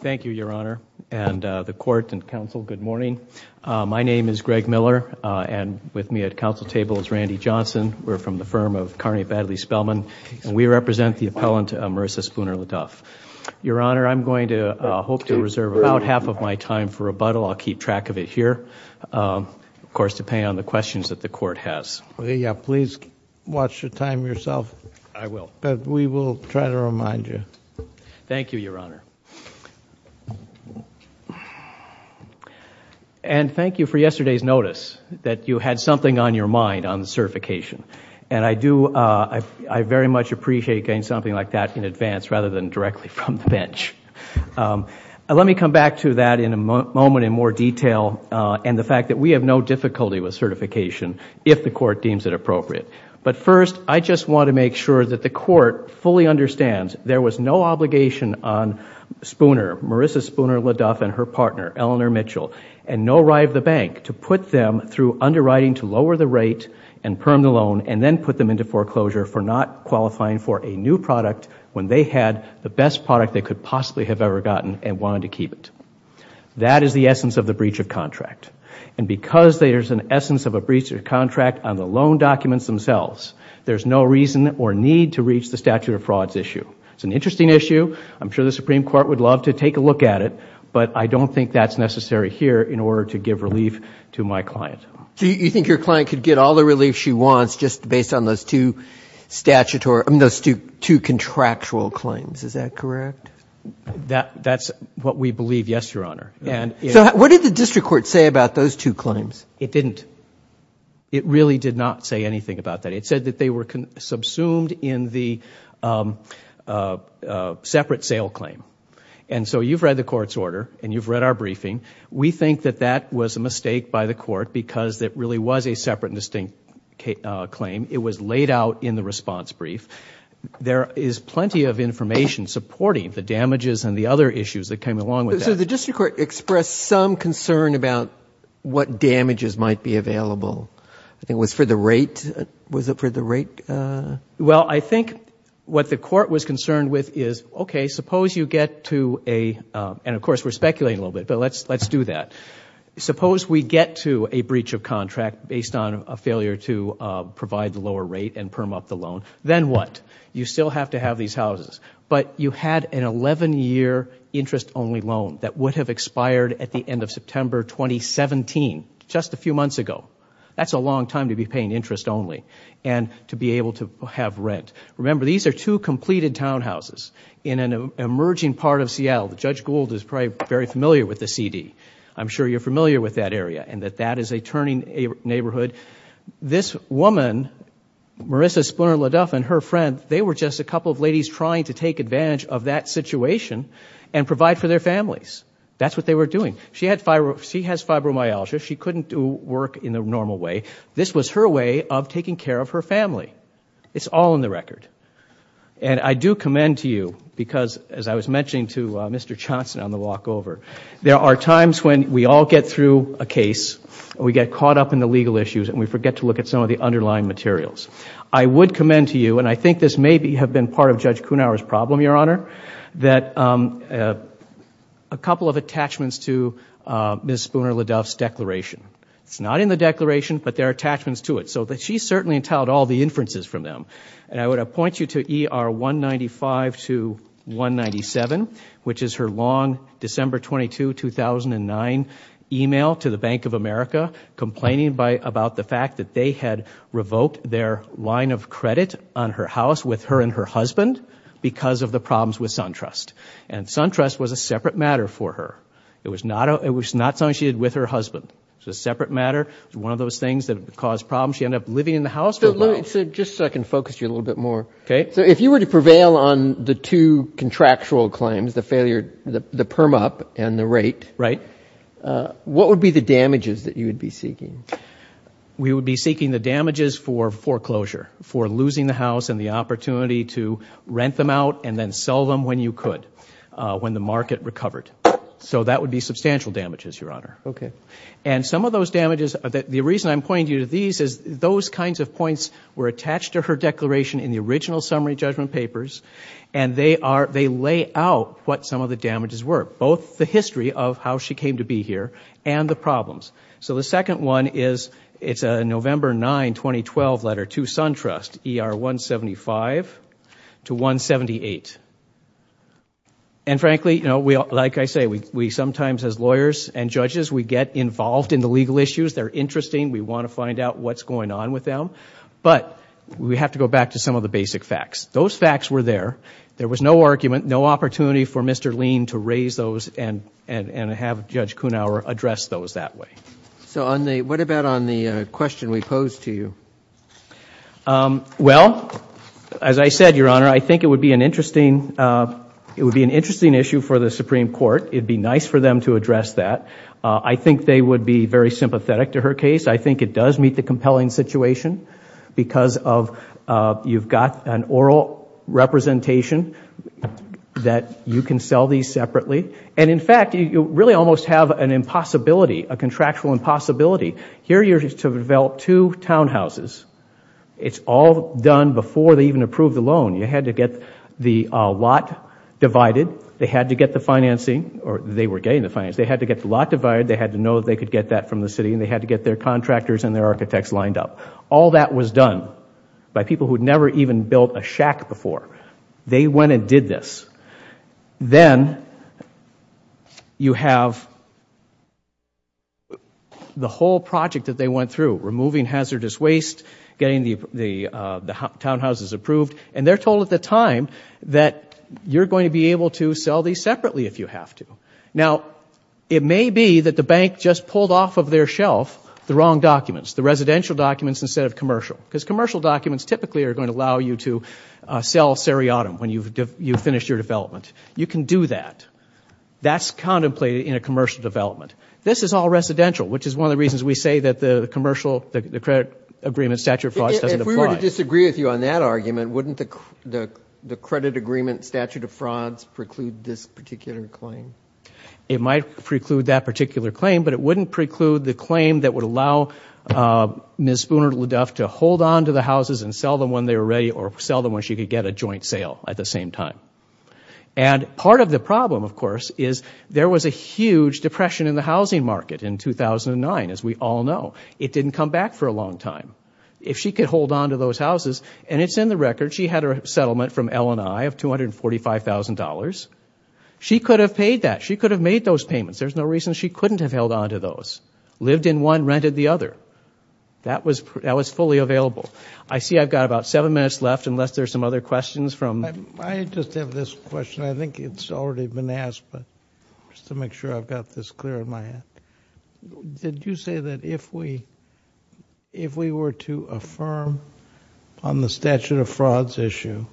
Thank you, Your Honor, and the Court and Council, good morning. My name is Greg Miller, and with me at Council table is Randy Johnson. We're from the firm of Carney Baddeley Spellman, and we represent the appellant Marisa Spooner-LeDuff. Your Honor, I'm going to hope to reserve about half of my time for rebuttal. I'll keep track of it here, of course, depending on the questions that the Court has. Yeah, please watch your time yourself. I will. But we will try to remind you. Thank you, Your Honor. And thank you for yesterday's notice that you had something on your mind on the certification. And I very much appreciate getting something like that in advance rather than directly from the bench. Let me come back to that in a moment in more detail and the fact that we have no difficulty with certification if the Court deems it appropriate. But first, I just want to make sure that the Court fully understands there was no obligation on Marisa Spooner-LeDuff and her partner, Eleanor Mitchell, and no right of the bank to put them through underwriting to lower the rate and perm the loan and then put them into foreclosure for not qualifying for a new product when they had the best product they could possibly have ever gotten and wanted to keep it. That is the essence of the breach of contract. And because there's an essence of a breach of contract on the loan documents themselves, there's no reason or need to reach the statute of frauds issue. It's an interesting issue. I'm sure the Supreme Court would love to take a look at it, but I don't think that's necessary here in order to give relief to my client. You think your client could get all the relief she wants just based on those two contractual claims, is that correct? That's what we believe, yes, Your Honor. So what did the district court say about those two claims? It didn't. It really did not say anything about that. It said that they were subsumed in the separate sale claim. And so you've read the Court's order and you've read our briefing. We think that that was a mistake by the Court because it really was a separate and distinct claim. It was laid out in the response brief. There is plenty of information supporting the damages and the other issues that came along with that. So the district court expressed some concern about what damages might be available. I think it was for the rate. Was it for the rate? Well, I think what the court was concerned with is, okay, suppose you get to a, and of course we're speculating a little bit, but let's do that. Suppose we get to a breach of contract based on a failure to provide the lower rate and perm up the loan. Then what? You still have to have these houses. But you had an 11-year interest only loan that would have expired at the end of September 2017, just a few months ago. That's a long time to be paying interest only and to be able to have rent. Remember, these are two completed townhouses in an emerging part of Seattle. Judge Gould is probably very familiar with the CD. I'm sure you're familiar with that area and that that is a turning neighborhood. This woman, Marissa Splinter-Leduff and her friend, they were just a couple of ladies trying to take advantage of that situation and provide for their families. That's what they were doing. She has fibromyalgia. She couldn't do work in the normal way. This was her way of taking care of her family. It's all in the record. And I do commend to you because, as I was mentioning to Mr. Johnson on the walk over, there are times when we all get through a case, we get caught up in the legal issues and we forget to look at some of the underlying materials. I would commend to you, and I think this may have been part of Judge Kuhnhauer's problem, Your Honor, that a couple of attachments to Ms. Splinter-Leduff's declaration. It's not in the declaration, but there are attachments to it. So she certainly entailed all the inferences from them. And I would appoint you to ER 195 to 197, which is her long December 22, 2009 email to the Bank of America complaining about the fact that they had revoked their line of credit on her house with her and her husband because of the problems with SunTrust. And SunTrust was a separate matter for her. It was not something she did with her husband. It was a separate matter. It was one of those things that caused problems. She ended up living in the house for a while. Just so I can focus you a little bit more. Okay. So if you were to prevail on the two contractual claims, the perm up and the rate, what would be the damages that you would be seeking? We would be seeking the damages for foreclosure, for losing the house and the opportunity to rent them out and then sell them when you could, when the market recovered. So that would be substantial damages, Your Honor. Okay. And some of those damages, the reason I'm pointing you to these is those kinds of points were attached to her declaration in the original summary judgment papers, and they lay out what some of the damages were, both the history of how she came to be here and the problems. So the second one is, it's a November 9, 2012 letter to SunTrust, ER 175 to 178. And frankly, you know, like I say, we sometimes as lawyers and judges, we get involved in the legal issues. They're interesting. We want to find out what's going on with them. But we have to go back to some of the basic facts. Those facts were there. There was no argument, no opportunity for Mr. Lean to raise those and have Judge Kunauer address those that way. So on the, what about on the question we posed to you? Well, as I said, Your Honor, I think it would be an interesting, it would be an interesting issue for the Supreme Court. It'd be nice for them to address that. I think they would be very sympathetic to her case. I think it does meet the compelling situation because of, you've got an oral representation that you can sell these separately. And in fact, you really almost have an impossibility, a contractual impossibility. Here you're to develop two townhouses. It's all done before they even approve the loan. You had to get the lot divided. They had to get the financing, or they were getting the financing. They had to get the lot divided. They had to know that they could get that from the city, and they had to get their contractors and their architects lined up. All that was done by people who had never even built a shack before. They went and did this. Then you have the whole project that they went through, removing hazardous waste, getting the townhouses approved, and they're told at the time that you're going to be able to sell these separately if you have to. Now, it may be that the bank just pulled off of their shelf the wrong documents, the residential documents instead of commercial, because commercial documents typically are going to allow you to sell seriatim when you've finished your development. You can do that. That's contemplated in a commercial development. This is all residential, which is one of the reasons we say that the commercial, the credit agreement, statute of frauds doesn't apply. If we were to disagree with you on that argument, wouldn't the credit agreement statute of frauds preclude this particular claim? It might preclude that particular claim, but it wouldn't preclude the claim that would allow Ms. Spooner-Leduff to hold on to the houses and sell them when they were ready or sell them when she could get a joint sale at the same time. Part of the problem, of course, is there was a huge depression in the housing market in 2009, as we all know. It didn't come back for a long time. If she could hold on to those houses, and it's in the record, she had her settlement from L&I of $245,000. She could have paid that. She could have made those payments. There's no reason she couldn't have held on to those. Lived in one, rented the other. That was fully available. I see I've got about seven minutes left, unless there's some other questions from I just have this question. I think it's already been asked, but just to make sure I've got this clear in my head. Did you say that if we were to affirm on the statute of frauds issue,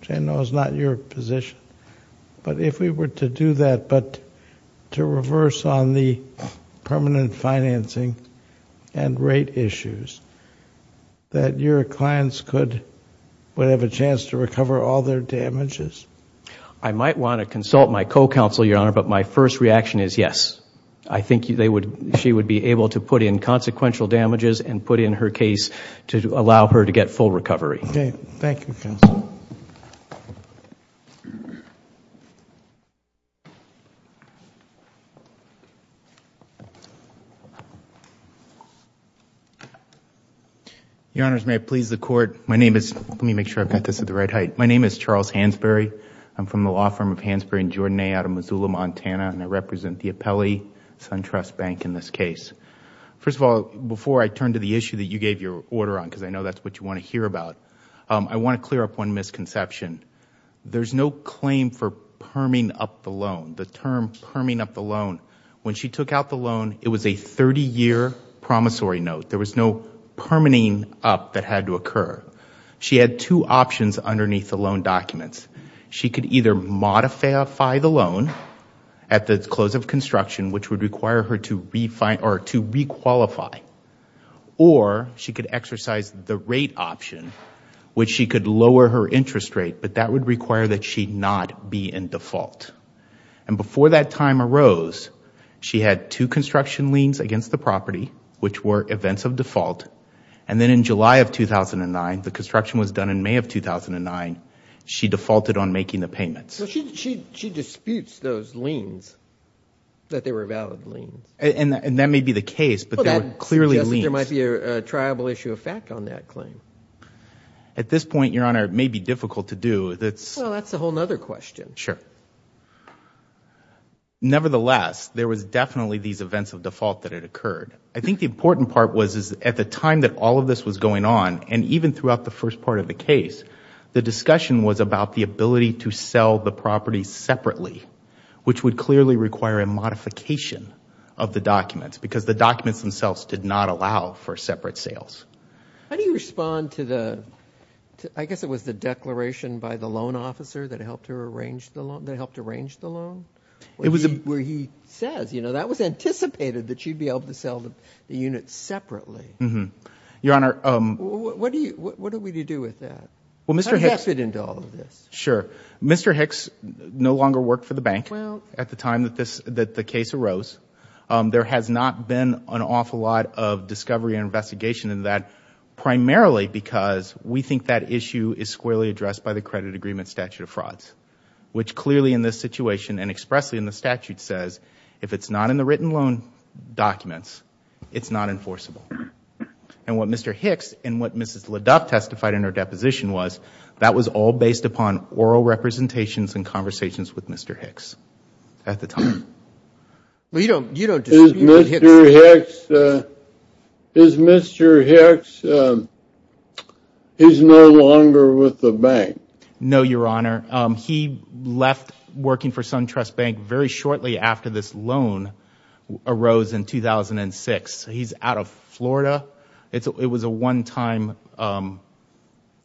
which I know is not your position, but if we were to do that, but to reverse on the permanent financing and rate issues, that your clients would have a chance to recover all their damages? I might want to consult my co-counsel, Your Honor, but my first reaction is yes. I think she would be able to put in consequential damages and put in her case to allow her to get full recovery. Okay. Thank you, counsel. Your Honors, may I please the Court? My name is... let me make sure I've got this at the right height. My name is Charles Hansberry. I'm from the law firm of Hansberry & Jordanet out of Missoula, Montana, and I represent the Apelli SunTrust Bank in this case. First of all, before I turn to the issue that you gave your order on, because I know that's what you want to hear about, I want to clear up one misconception. There's no claim for perming up the loan, the term perming up the loan. When she took out the loan, it was a 30-year promissory note. There was no permitting up that had to occur. She had two options underneath the loan documents. She could either modify the loan at the close of construction, which would require her to requalify, or she could exercise the rate option, which she could lower her interest rate, but that would require that she not be in default. Before that time arose, she had two construction liens against the property, which were events of default. Then in July of 2009, the construction was done in May of 2009, she defaulted on making the payments. She disputes those liens, that they were valid liens. That may be the case, but they were clearly liens. That suggests that there might be a triable issue of fact on that claim. At this point, Your Honor, it may be difficult to do. That's a whole other question. Sure. Nevertheless, there was definitely these events of default that had occurred. I think the important part was, is at the time that all of this was going on, and even throughout the first part of the case, the discussion was about the ability to sell the property separately, which would clearly require a modification of the documents, because the documents themselves did not allow for separate sales. How do you respond to the, I guess it was the declaration by the loan officer that helped her arrange the loan, that helped arrange the loan? It was a... Where he says, that was anticipated that she'd be able to sell the unit separately. Your Honor... What are we to do with that? How does that fit into all of this? Sure. Mr. Hicks no longer worked for the bank at the time that the case arose. There has not been an awful lot of discovery and investigation in that, primarily because we think that issue is squarely addressed by the credit agreement statute of frauds, which clearly in this situation, and expressly in the statute says, if it's not in the written loan documents, it's not enforceable. What Mr. Hicks, and what Mrs. LeDuc testified in her deposition was, that was all based upon oral representations and conversations with Mr. Hicks at the time. You don't... Is Mr. Hicks, is Mr. Hicks, is no longer with the bank? No, Your Honor. He left working for SunTrust Bank very shortly after this loan arose in 2006. He's out of Florida. It was a one-time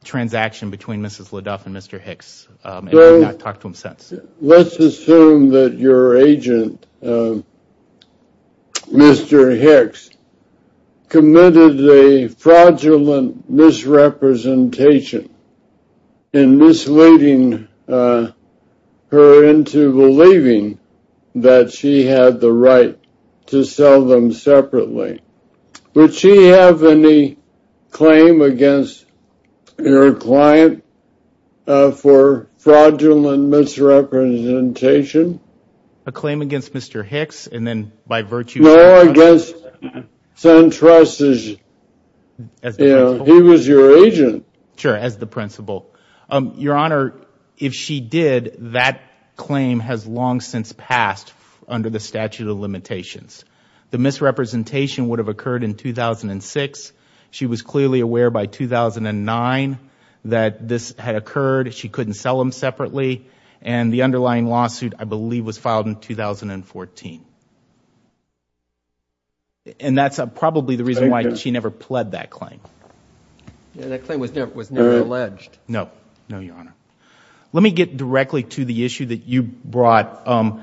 transaction between Mrs. LeDuc and Mr. Hicks, and we've not talked to him since. Let's assume that your agent, Mr. Hicks, committed a fraudulent misrepresentation in misleading her into believing that she had the right to sell them separately. Would she have any claim against your client for fraudulent misrepresentation? A claim against Mr. Hicks, and then by virtue of... No, against SunTrust, he was your agent. Sure, as the principal. Your Honor, if she did, that claim has long since passed under the statute of limitations. The misrepresentation would have occurred in 2006. She was clearly aware by 2009 that this had occurred. She couldn't sell them separately, and the underlying lawsuit, I believe, was filed in 2014. That's probably the reason why she never pled that claim. That claim was never alleged. No, Your Honor. Let me get directly to the issue that you brought.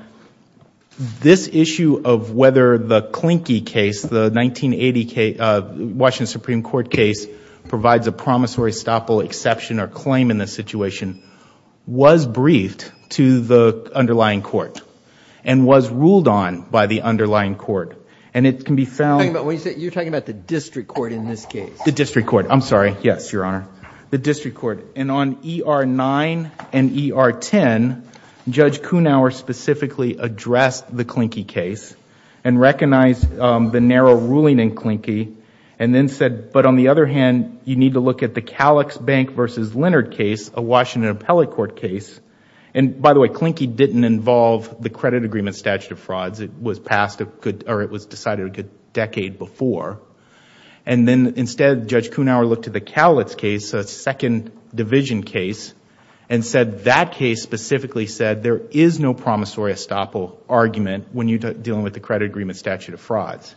This issue of whether the Klinky case, the 1980 Washington Supreme Court case, provides a promissory stopple exception or claim in this situation, was briefed to the underlying court, and was ruled on by the underlying court. It can be found... You're talking about the district court in this case. The district court. I'm sorry. Yes, Your Honor. The district court. On ER-9 and ER-10, Judge Kuhnhauer specifically addressed the Klinky case, and recognized the narrow ruling in Klinky, and then said, but on the other hand, you need to look at the Kalitz Bank v. Leonard case, a Washington appellate court case. By the way, Klinky didn't involve the credit agreement statute of frauds. It was decided a good decade before, and then instead, Judge Kuhnhauer looked at the Kalitz case, a second division case, and said that case specifically said there is no promissory stopple argument when you're dealing with the credit agreement statute of frauds.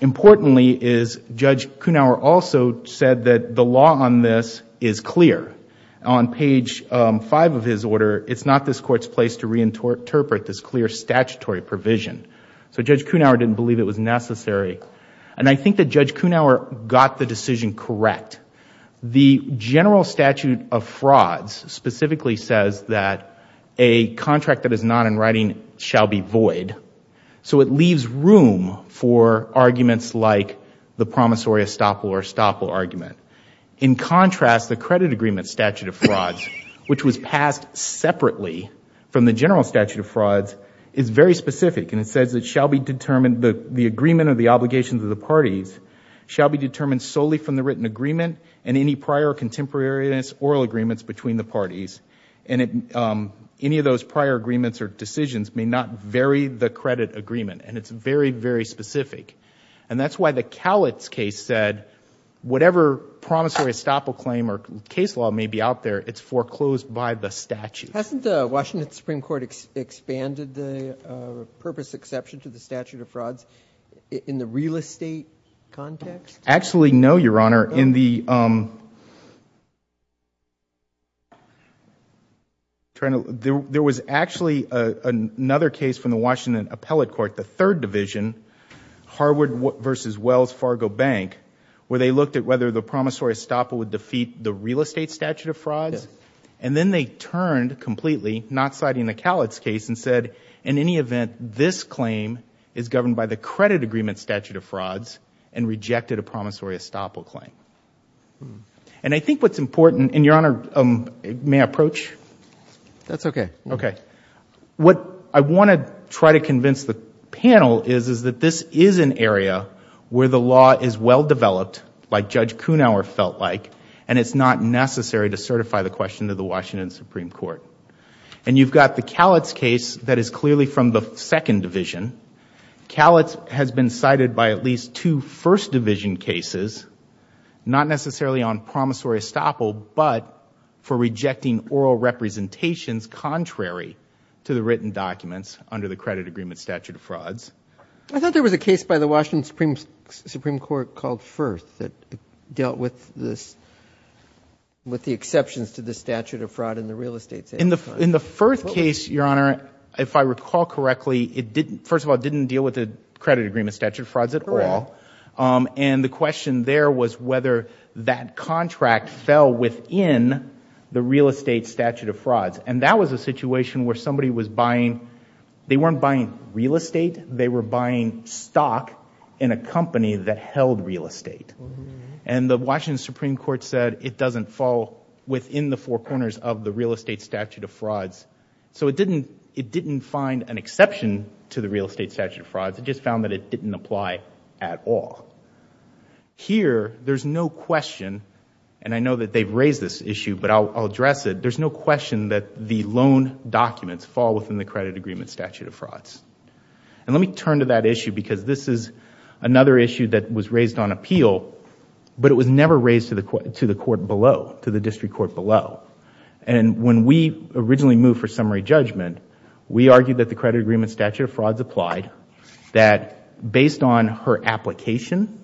Importantly is, Judge Kuhnhauer also said that the law on this is clear. On page five of his order, it's not this court's place to reinterpret this clear statutory provision. Judge Kuhnhauer didn't believe it was necessary. I think that Judge Kuhnhauer got the decision correct. The general statute of frauds specifically says that a contract that is not in writing shall be void. It leaves room for arguments like the promissory stopple or stopple argument. In contrast, the credit agreement statute of frauds, which was passed separately from the general statute of frauds, is very specific. It says that the agreement or the obligations of the parties shall be determined solely from the written agreement and any prior contemporaneous oral agreements between the parties. Any of those prior agreements or decisions may not vary the credit agreement. It's very, very specific. That's why the Kalitz case said whatever promissory stopple claim or case law may be out there, it's foreclosed by the statute. Hasn't the Washington Supreme Court expanded the purpose exception to the statute of frauds in the real estate context? Actually no, Your Honor. There was actually another case from the Washington Appellate Court, the third division, Harwood versus Wells Fargo Bank, where they looked at whether the promissory stopple would defeat the real estate statute of frauds. Then they turned completely, not citing the Kalitz case, and said in any event, this claim is governed by the credit agreement statute of frauds and rejected a promissory stopple claim. I think what's important, and Your Honor, may I approach? That's okay. Okay. What I want to try to convince the panel is that this is an area where the law is well and it's not necessary to certify the question to the Washington Supreme Court. You've got the Kalitz case that is clearly from the second division. Kalitz has been cited by at least two first division cases, not necessarily on promissory stopple, but for rejecting oral representations contrary to the written documents under the credit agreement statute of frauds. I thought there was a case by the Washington Supreme Court called Firth that dealt with the exceptions to the statute of fraud in the real estate statute of frauds. In the Firth case, Your Honor, if I recall correctly, it first of all didn't deal with the credit agreement statute of frauds at all. The question there was whether that contract fell within the real estate statute of frauds. That was a situation where somebody was buying, they weren't buying real estate, they were buying stock in a company that held real estate. The Washington Supreme Court said it doesn't fall within the four corners of the real estate statute of frauds. It didn't find an exception to the real estate statute of frauds, it just found that it didn't apply at all. Here there's no question, and I know that they've raised this issue, but I'll address it, there's no question that the loan documents fall within the credit agreement statute of frauds. Let me turn to that issue because this is another issue that was raised on appeal, but it was never raised to the court below, to the district court below. When we originally moved for summary judgment, we argued that the credit agreement statute of frauds applied, that based on her application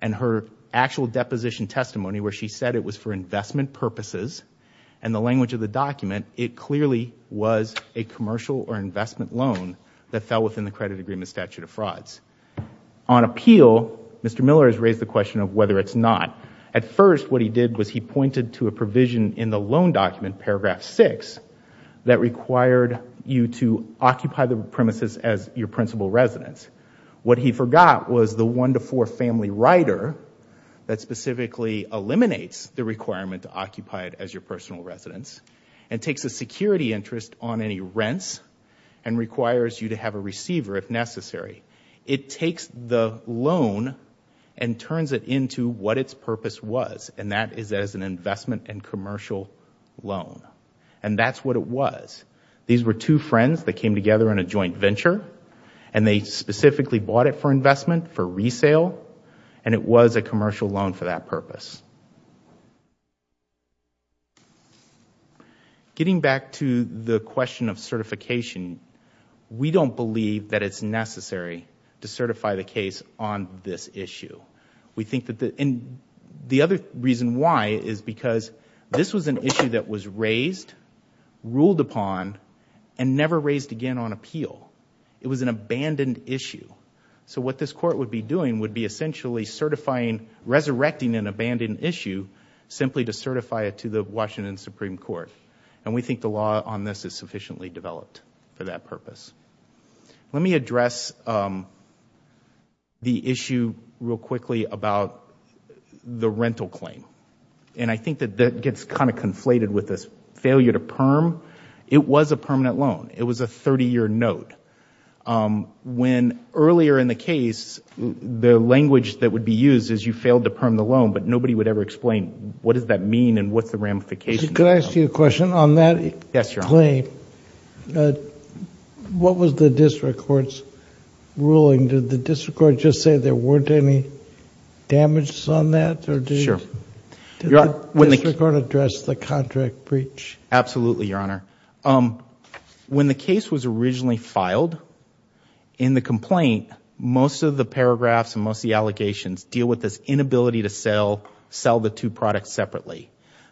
and her actual deposition testimony where she said it was for investment purposes and the language of the document, it clearly was a commercial or investment loan that fell within the credit agreement statute of frauds. On appeal, Mr. Miller has raised the question of whether it's not. At first what he did was he pointed to a provision in the loan document, paragraph six, that required you to occupy the premises as your principal residence. What he forgot was the one to four family rider that specifically eliminates the requirement to occupy it as your personal residence and takes a security interest on any rents and requires you to have a receiver if necessary. It takes the loan and turns it into what its purpose was, and that is as an investment and commercial loan, and that's what it was. These were two friends that came together on a joint venture, and they specifically bought it for investment, for resale, and it was a commercial loan for that purpose. Getting back to the question of certification, we don't believe that it's necessary to certify the case on this issue. The other reason why is because this was an issue that was raised, ruled upon, and never raised again on appeal. It was an abandoned issue. What this court would be doing would be essentially resurrecting an abandoned issue simply to certify it to the Washington Supreme Court. We think the law on this is sufficiently developed for that purpose. Let me address the issue real quickly about the rental claim. I think that that gets kind of conflated with this failure to perm. It was a permanent loan. It was a 30-year note. When earlier in the case, the language that would be used is you failed to perm the loan, but nobody would ever explain what does that mean and what's the ramification of that. Could I ask you a question? On that claim, what was the district court's ruling? Did the district court just say there weren't any damages on that or did the district court address the contract breach? Absolutely, Your Honor. When the case was originally filed, in the complaint, most of the paragraphs and most of the allegations deal with this inability to sell the two products separately.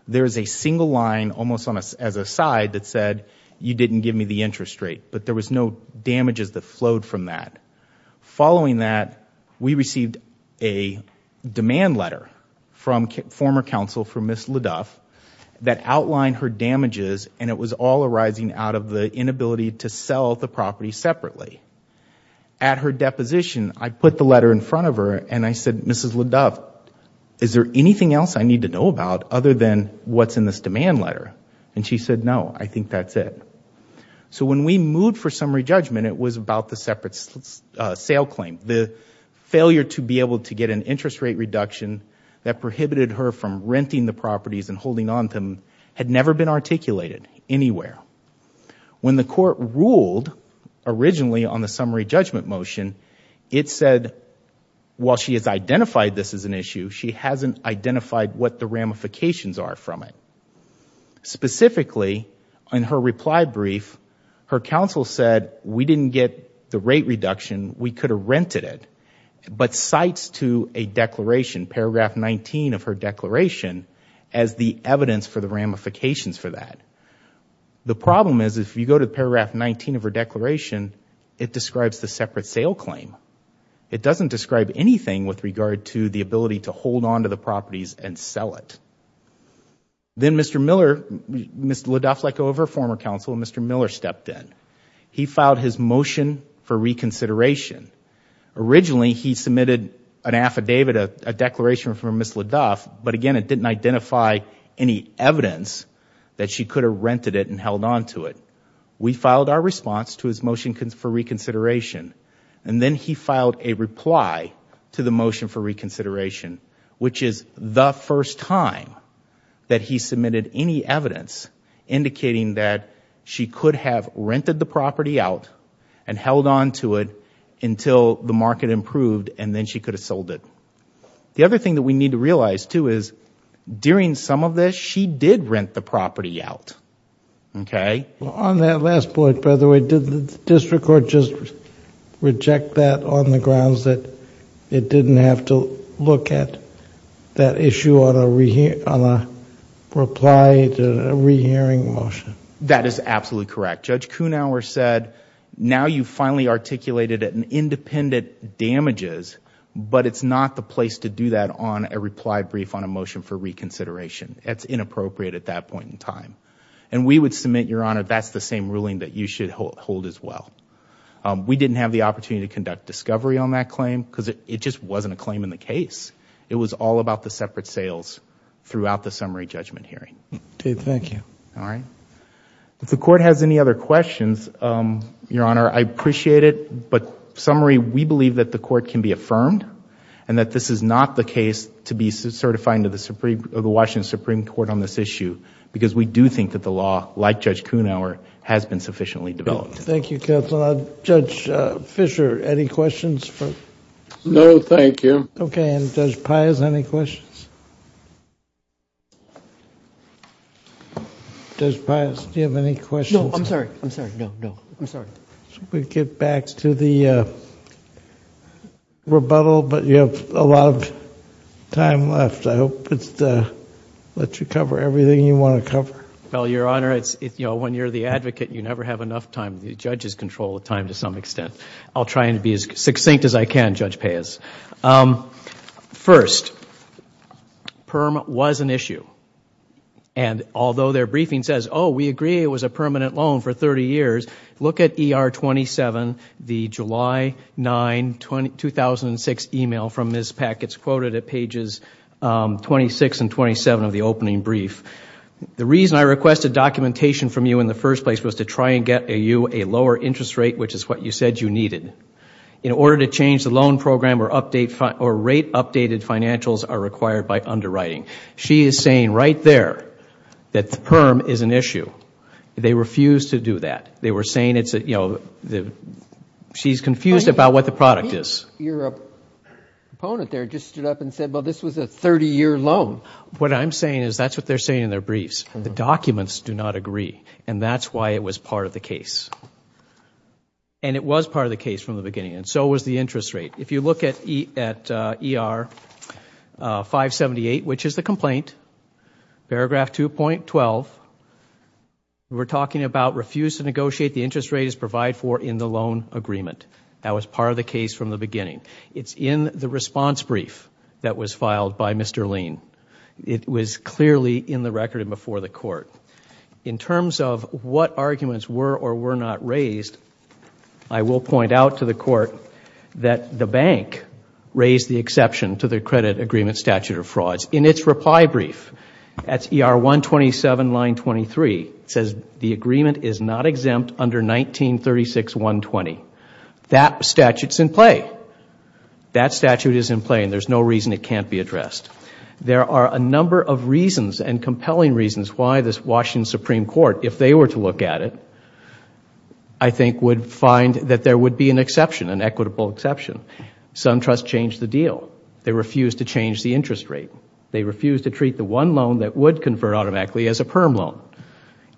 There is a single line almost as a side that said, you didn't give me the interest rate, but there was no damages that flowed from that. Following that, we received a demand letter from former counsel for Ms. LaDuff that outlined her damages and it was all arising out of the inability to sell the property separately. At her deposition, I put the letter in front of her and I said, Mrs. LaDuff, is there anything else I need to know about other than what's in this demand letter? She said, no, I think that's it. When we moved for summary judgment, it was about the separate sale claim. The failure to be able to get an interest rate reduction that prohibited her from renting the properties and holding on to them had never been articulated anywhere. When the court ruled originally on the summary judgment motion, it said while she has identified this as an issue, she hasn't identified what the ramifications are from it. Specifically, in her reply brief, her counsel said, we didn't get the rate reduction, we could have rented it, but cites to a declaration, paragraph 19 of her declaration, as the evidence for the ramifications for that. The problem is if you go to paragraph 19 of her declaration, it describes the separate sale claim. It doesn't describe anything with regard to the ability to hold on to the properties and sell it. Then Mr. Miller, Mrs. LaDuff let go of her former counsel and Mr. Miller stepped in. He filed his motion for reconsideration. Originally he submitted an affidavit, a declaration from Mrs. LaDuff, but again it didn't identify any evidence that she could have rented it and held on to it. We filed our response to his motion for reconsideration and then he filed a reply to the motion for reconsideration, which is the first time that he submitted any evidence indicating that she could have rented the property out and held on to it until the market improved and then she could have sold it. The other thing that we need to realize too is during some of this, she did rent the property out. On that last point, by the way, did the district court just reject that on the grounds that it didn't have to look at that issue on a reply to a rehearing motion? That is absolutely correct. Judge Kuhnhauer said, now you finally articulated an independent damages, but it's not the place to do that on a reply brief on a motion for reconsideration. That's inappropriate at that point in time. We would submit, Your Honor, that's the same ruling that you should hold as well. We didn't have the opportunity to conduct discovery on that claim because it just wasn't a claim in the case. It was all about the separate sales throughout the summary judgment hearing. Dave, thank you. If the court has any other questions, Your Honor, I appreciate it, but summary, we believe that the court can be affirmed and that this is not the case to be certifying to the Washington Supreme Court on this issue because we do think that the law, like Judge Kuhnhauer, has been sufficiently developed. Thank you, counsel. Judge Fischer, any questions for... No, thank you. Okay. Judge Pius, any questions? Judge Pius, do you have any questions? No, I'm sorry. I'm sorry. No, no. I'm sorry. We get back to the rebuttal, but you have a lot of time left. I hope it lets you cover everything you want to cover. Well, Your Honor, when you're the advocate, you never have enough time. The judges control the time to some extent. I'll try and be as succinct as I can, Judge Pius. First, PERM was an issue. Although their briefing says, oh, we agree it was a permanent loan for thirty years, look at ER 27, the July 9, 2006 email from Ms. Pack. It's quoted at pages 26 and 27 of the opening brief. The reason I requested documentation from you in the first place was to try and get you a lower interest rate, which is what you said you needed. In order to change the loan program or rate-updated financials are required by underwriting. She is saying right there that PERM is an issue. They refused to do that. They were saying she's confused about what the product is. Your opponent there just stood up and said, well, this was a thirty-year loan. What I'm saying is that's what they're saying in their briefs. The documents do not agree, and that's why it was part of the case. And it was part of the case from the beginning, and so was the interest rate. If you look at ER 578, which is the complaint, paragraph 2.12, we're talking about refuse to negotiate the interest rate as provided for in the loan agreement. That was part of the case from the beginning. It's in the response brief that was filed by Mr. Lean. It was clearly in the record and before the Court. In terms of what arguments were or were not raised, I will point out to the Court that the bank raised the exception to the credit agreement statute of frauds. In its reply brief at ER 127, line 23, it says the agreement is not exempt under 1936.120. That statute's in play. That statute is in play, and there's no reason it can't be addressed. There are a number of reasons and compelling reasons why this Washington Supreme Court, if they were to look at it, I think would find that there would be an exception, an equitable exception. SunTrust changed the deal. They refused to change the interest rate. They refused to treat the one loan that would convert automatically as a PERM loan.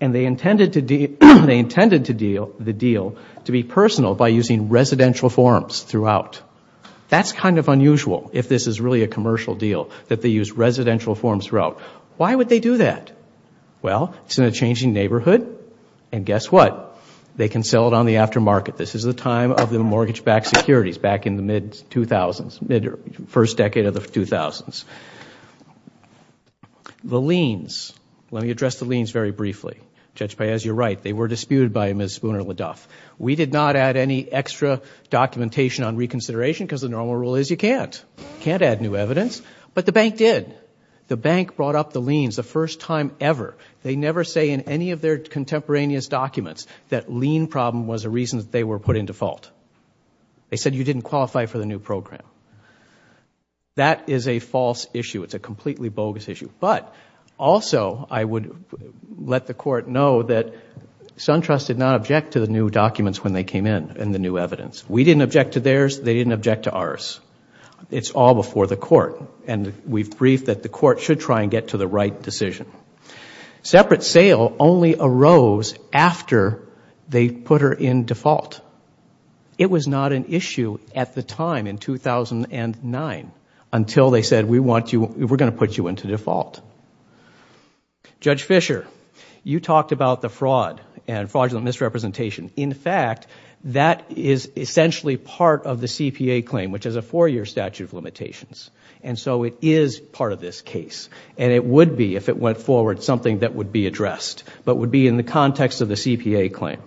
And they intended the deal to be personal by using residential forms throughout. That's kind of unusual, if this is really a commercial deal, that they use residential forms throughout. Why would they do that? Well, it's in a changing neighborhood, and guess what? They can sell it on the aftermarket. This is the time of the mortgage-backed securities, back in the mid-2000s, mid-first decade of the 2000s. The liens. Let me address the liens very briefly. Judge Paez, you're right. They were disputed by Ms. Spooner-Ledoff. We did not add any extra documentation on reconsideration, because the normal rule is you can't. You can't add new evidence, but the bank did. The bank brought up the liens the first time ever. They never say in any of their contemporaneous documents that lien problem was a reason that they were put in default. They said you didn't qualify for the new program. That is a false issue. It's a completely bogus issue. But also, I would let the Court know that SunTrust did not object to the new documents when they came in, and the new evidence. We didn't object to theirs, they didn't object to ours. It's all before the Court, and we've briefed that the Court should try and get to the right decision. Separate sale only arose after they put her in default. It was not an issue at the time in 2009 until they said we're going to put you into default. Judge Fischer, you talked about the fraud and fraudulent misrepresentation. In fact, that is essentially part of the CPA claim, which is a four-year statute of limitations, and so it is part of this case. It would be, if it went forward, something that would be addressed, but would be in the context of the CPA claim.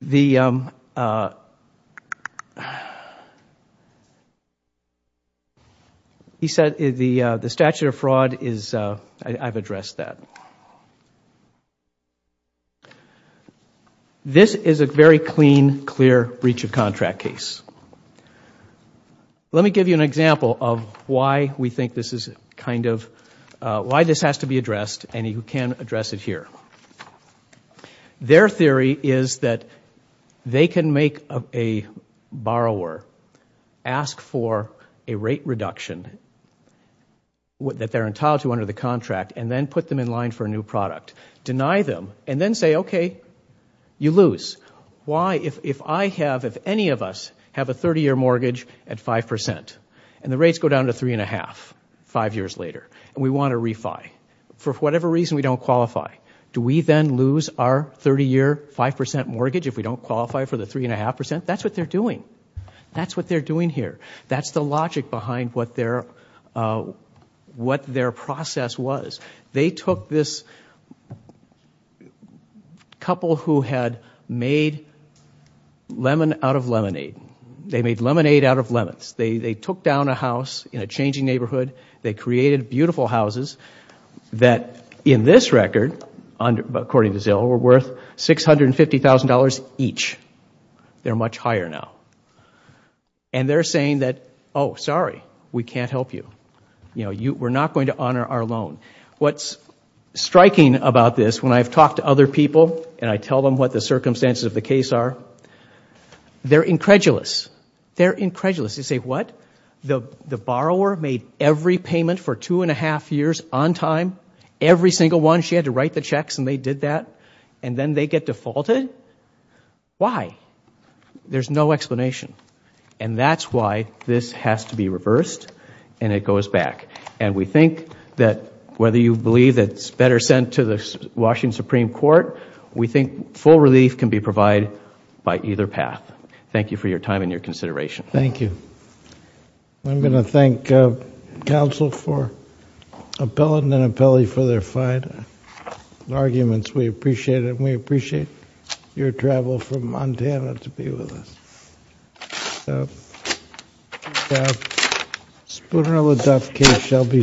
The statute of fraud, I've addressed that. This is a very clean, clear breach of contract case. Let me give you an example of why this has to be addressed, and you can address it here. Their theory is that they can make a borrower ask for a rate reduction that they're entitled to under the contract, and then put them in line for a new product, deny them, and then say, okay, you lose. Why? If I have, if any of us have a 30-year mortgage at 5%, and the rates go down to 3.5% five years later, and we want to refi, for whatever reason, we don't qualify, do we then lose our 30-year 5% mortgage if we don't qualify for the 3.5%? That's what they're doing. That's what they're doing here. That's the logic behind what their process was. They took this couple who had made lemon out of lemonade. They made lemonade out of lemons. They took down a house in a changing neighborhood. They created beautiful houses that, in this record, according to Zill, were worth $650,000 each. They're much higher now. They're saying that, oh, sorry, we can't help you. We're not going to honor our loan. What's striking about this, when I've talked to other people, and I tell them what the circumstances of the case are, they're incredulous. They're incredulous. They say, what? The borrower made every payment for two and a half years on time? Every single one? She had to write the checks, and they did that, and then they get defaulted? Why? There's no explanation. That's why this has to be reversed, and it goes back. We think that, whether you believe it's better sent to the Washington Supreme Court, we think full relief can be provided by either path. Thank you for your time and your consideration. Thank you. I'm going to thank counsel for appellate and appellee for their fine arguments. We appreciate it. I'm going to ask counsel from Montana to be with us. Spooner-Ledoff case shall be submitted.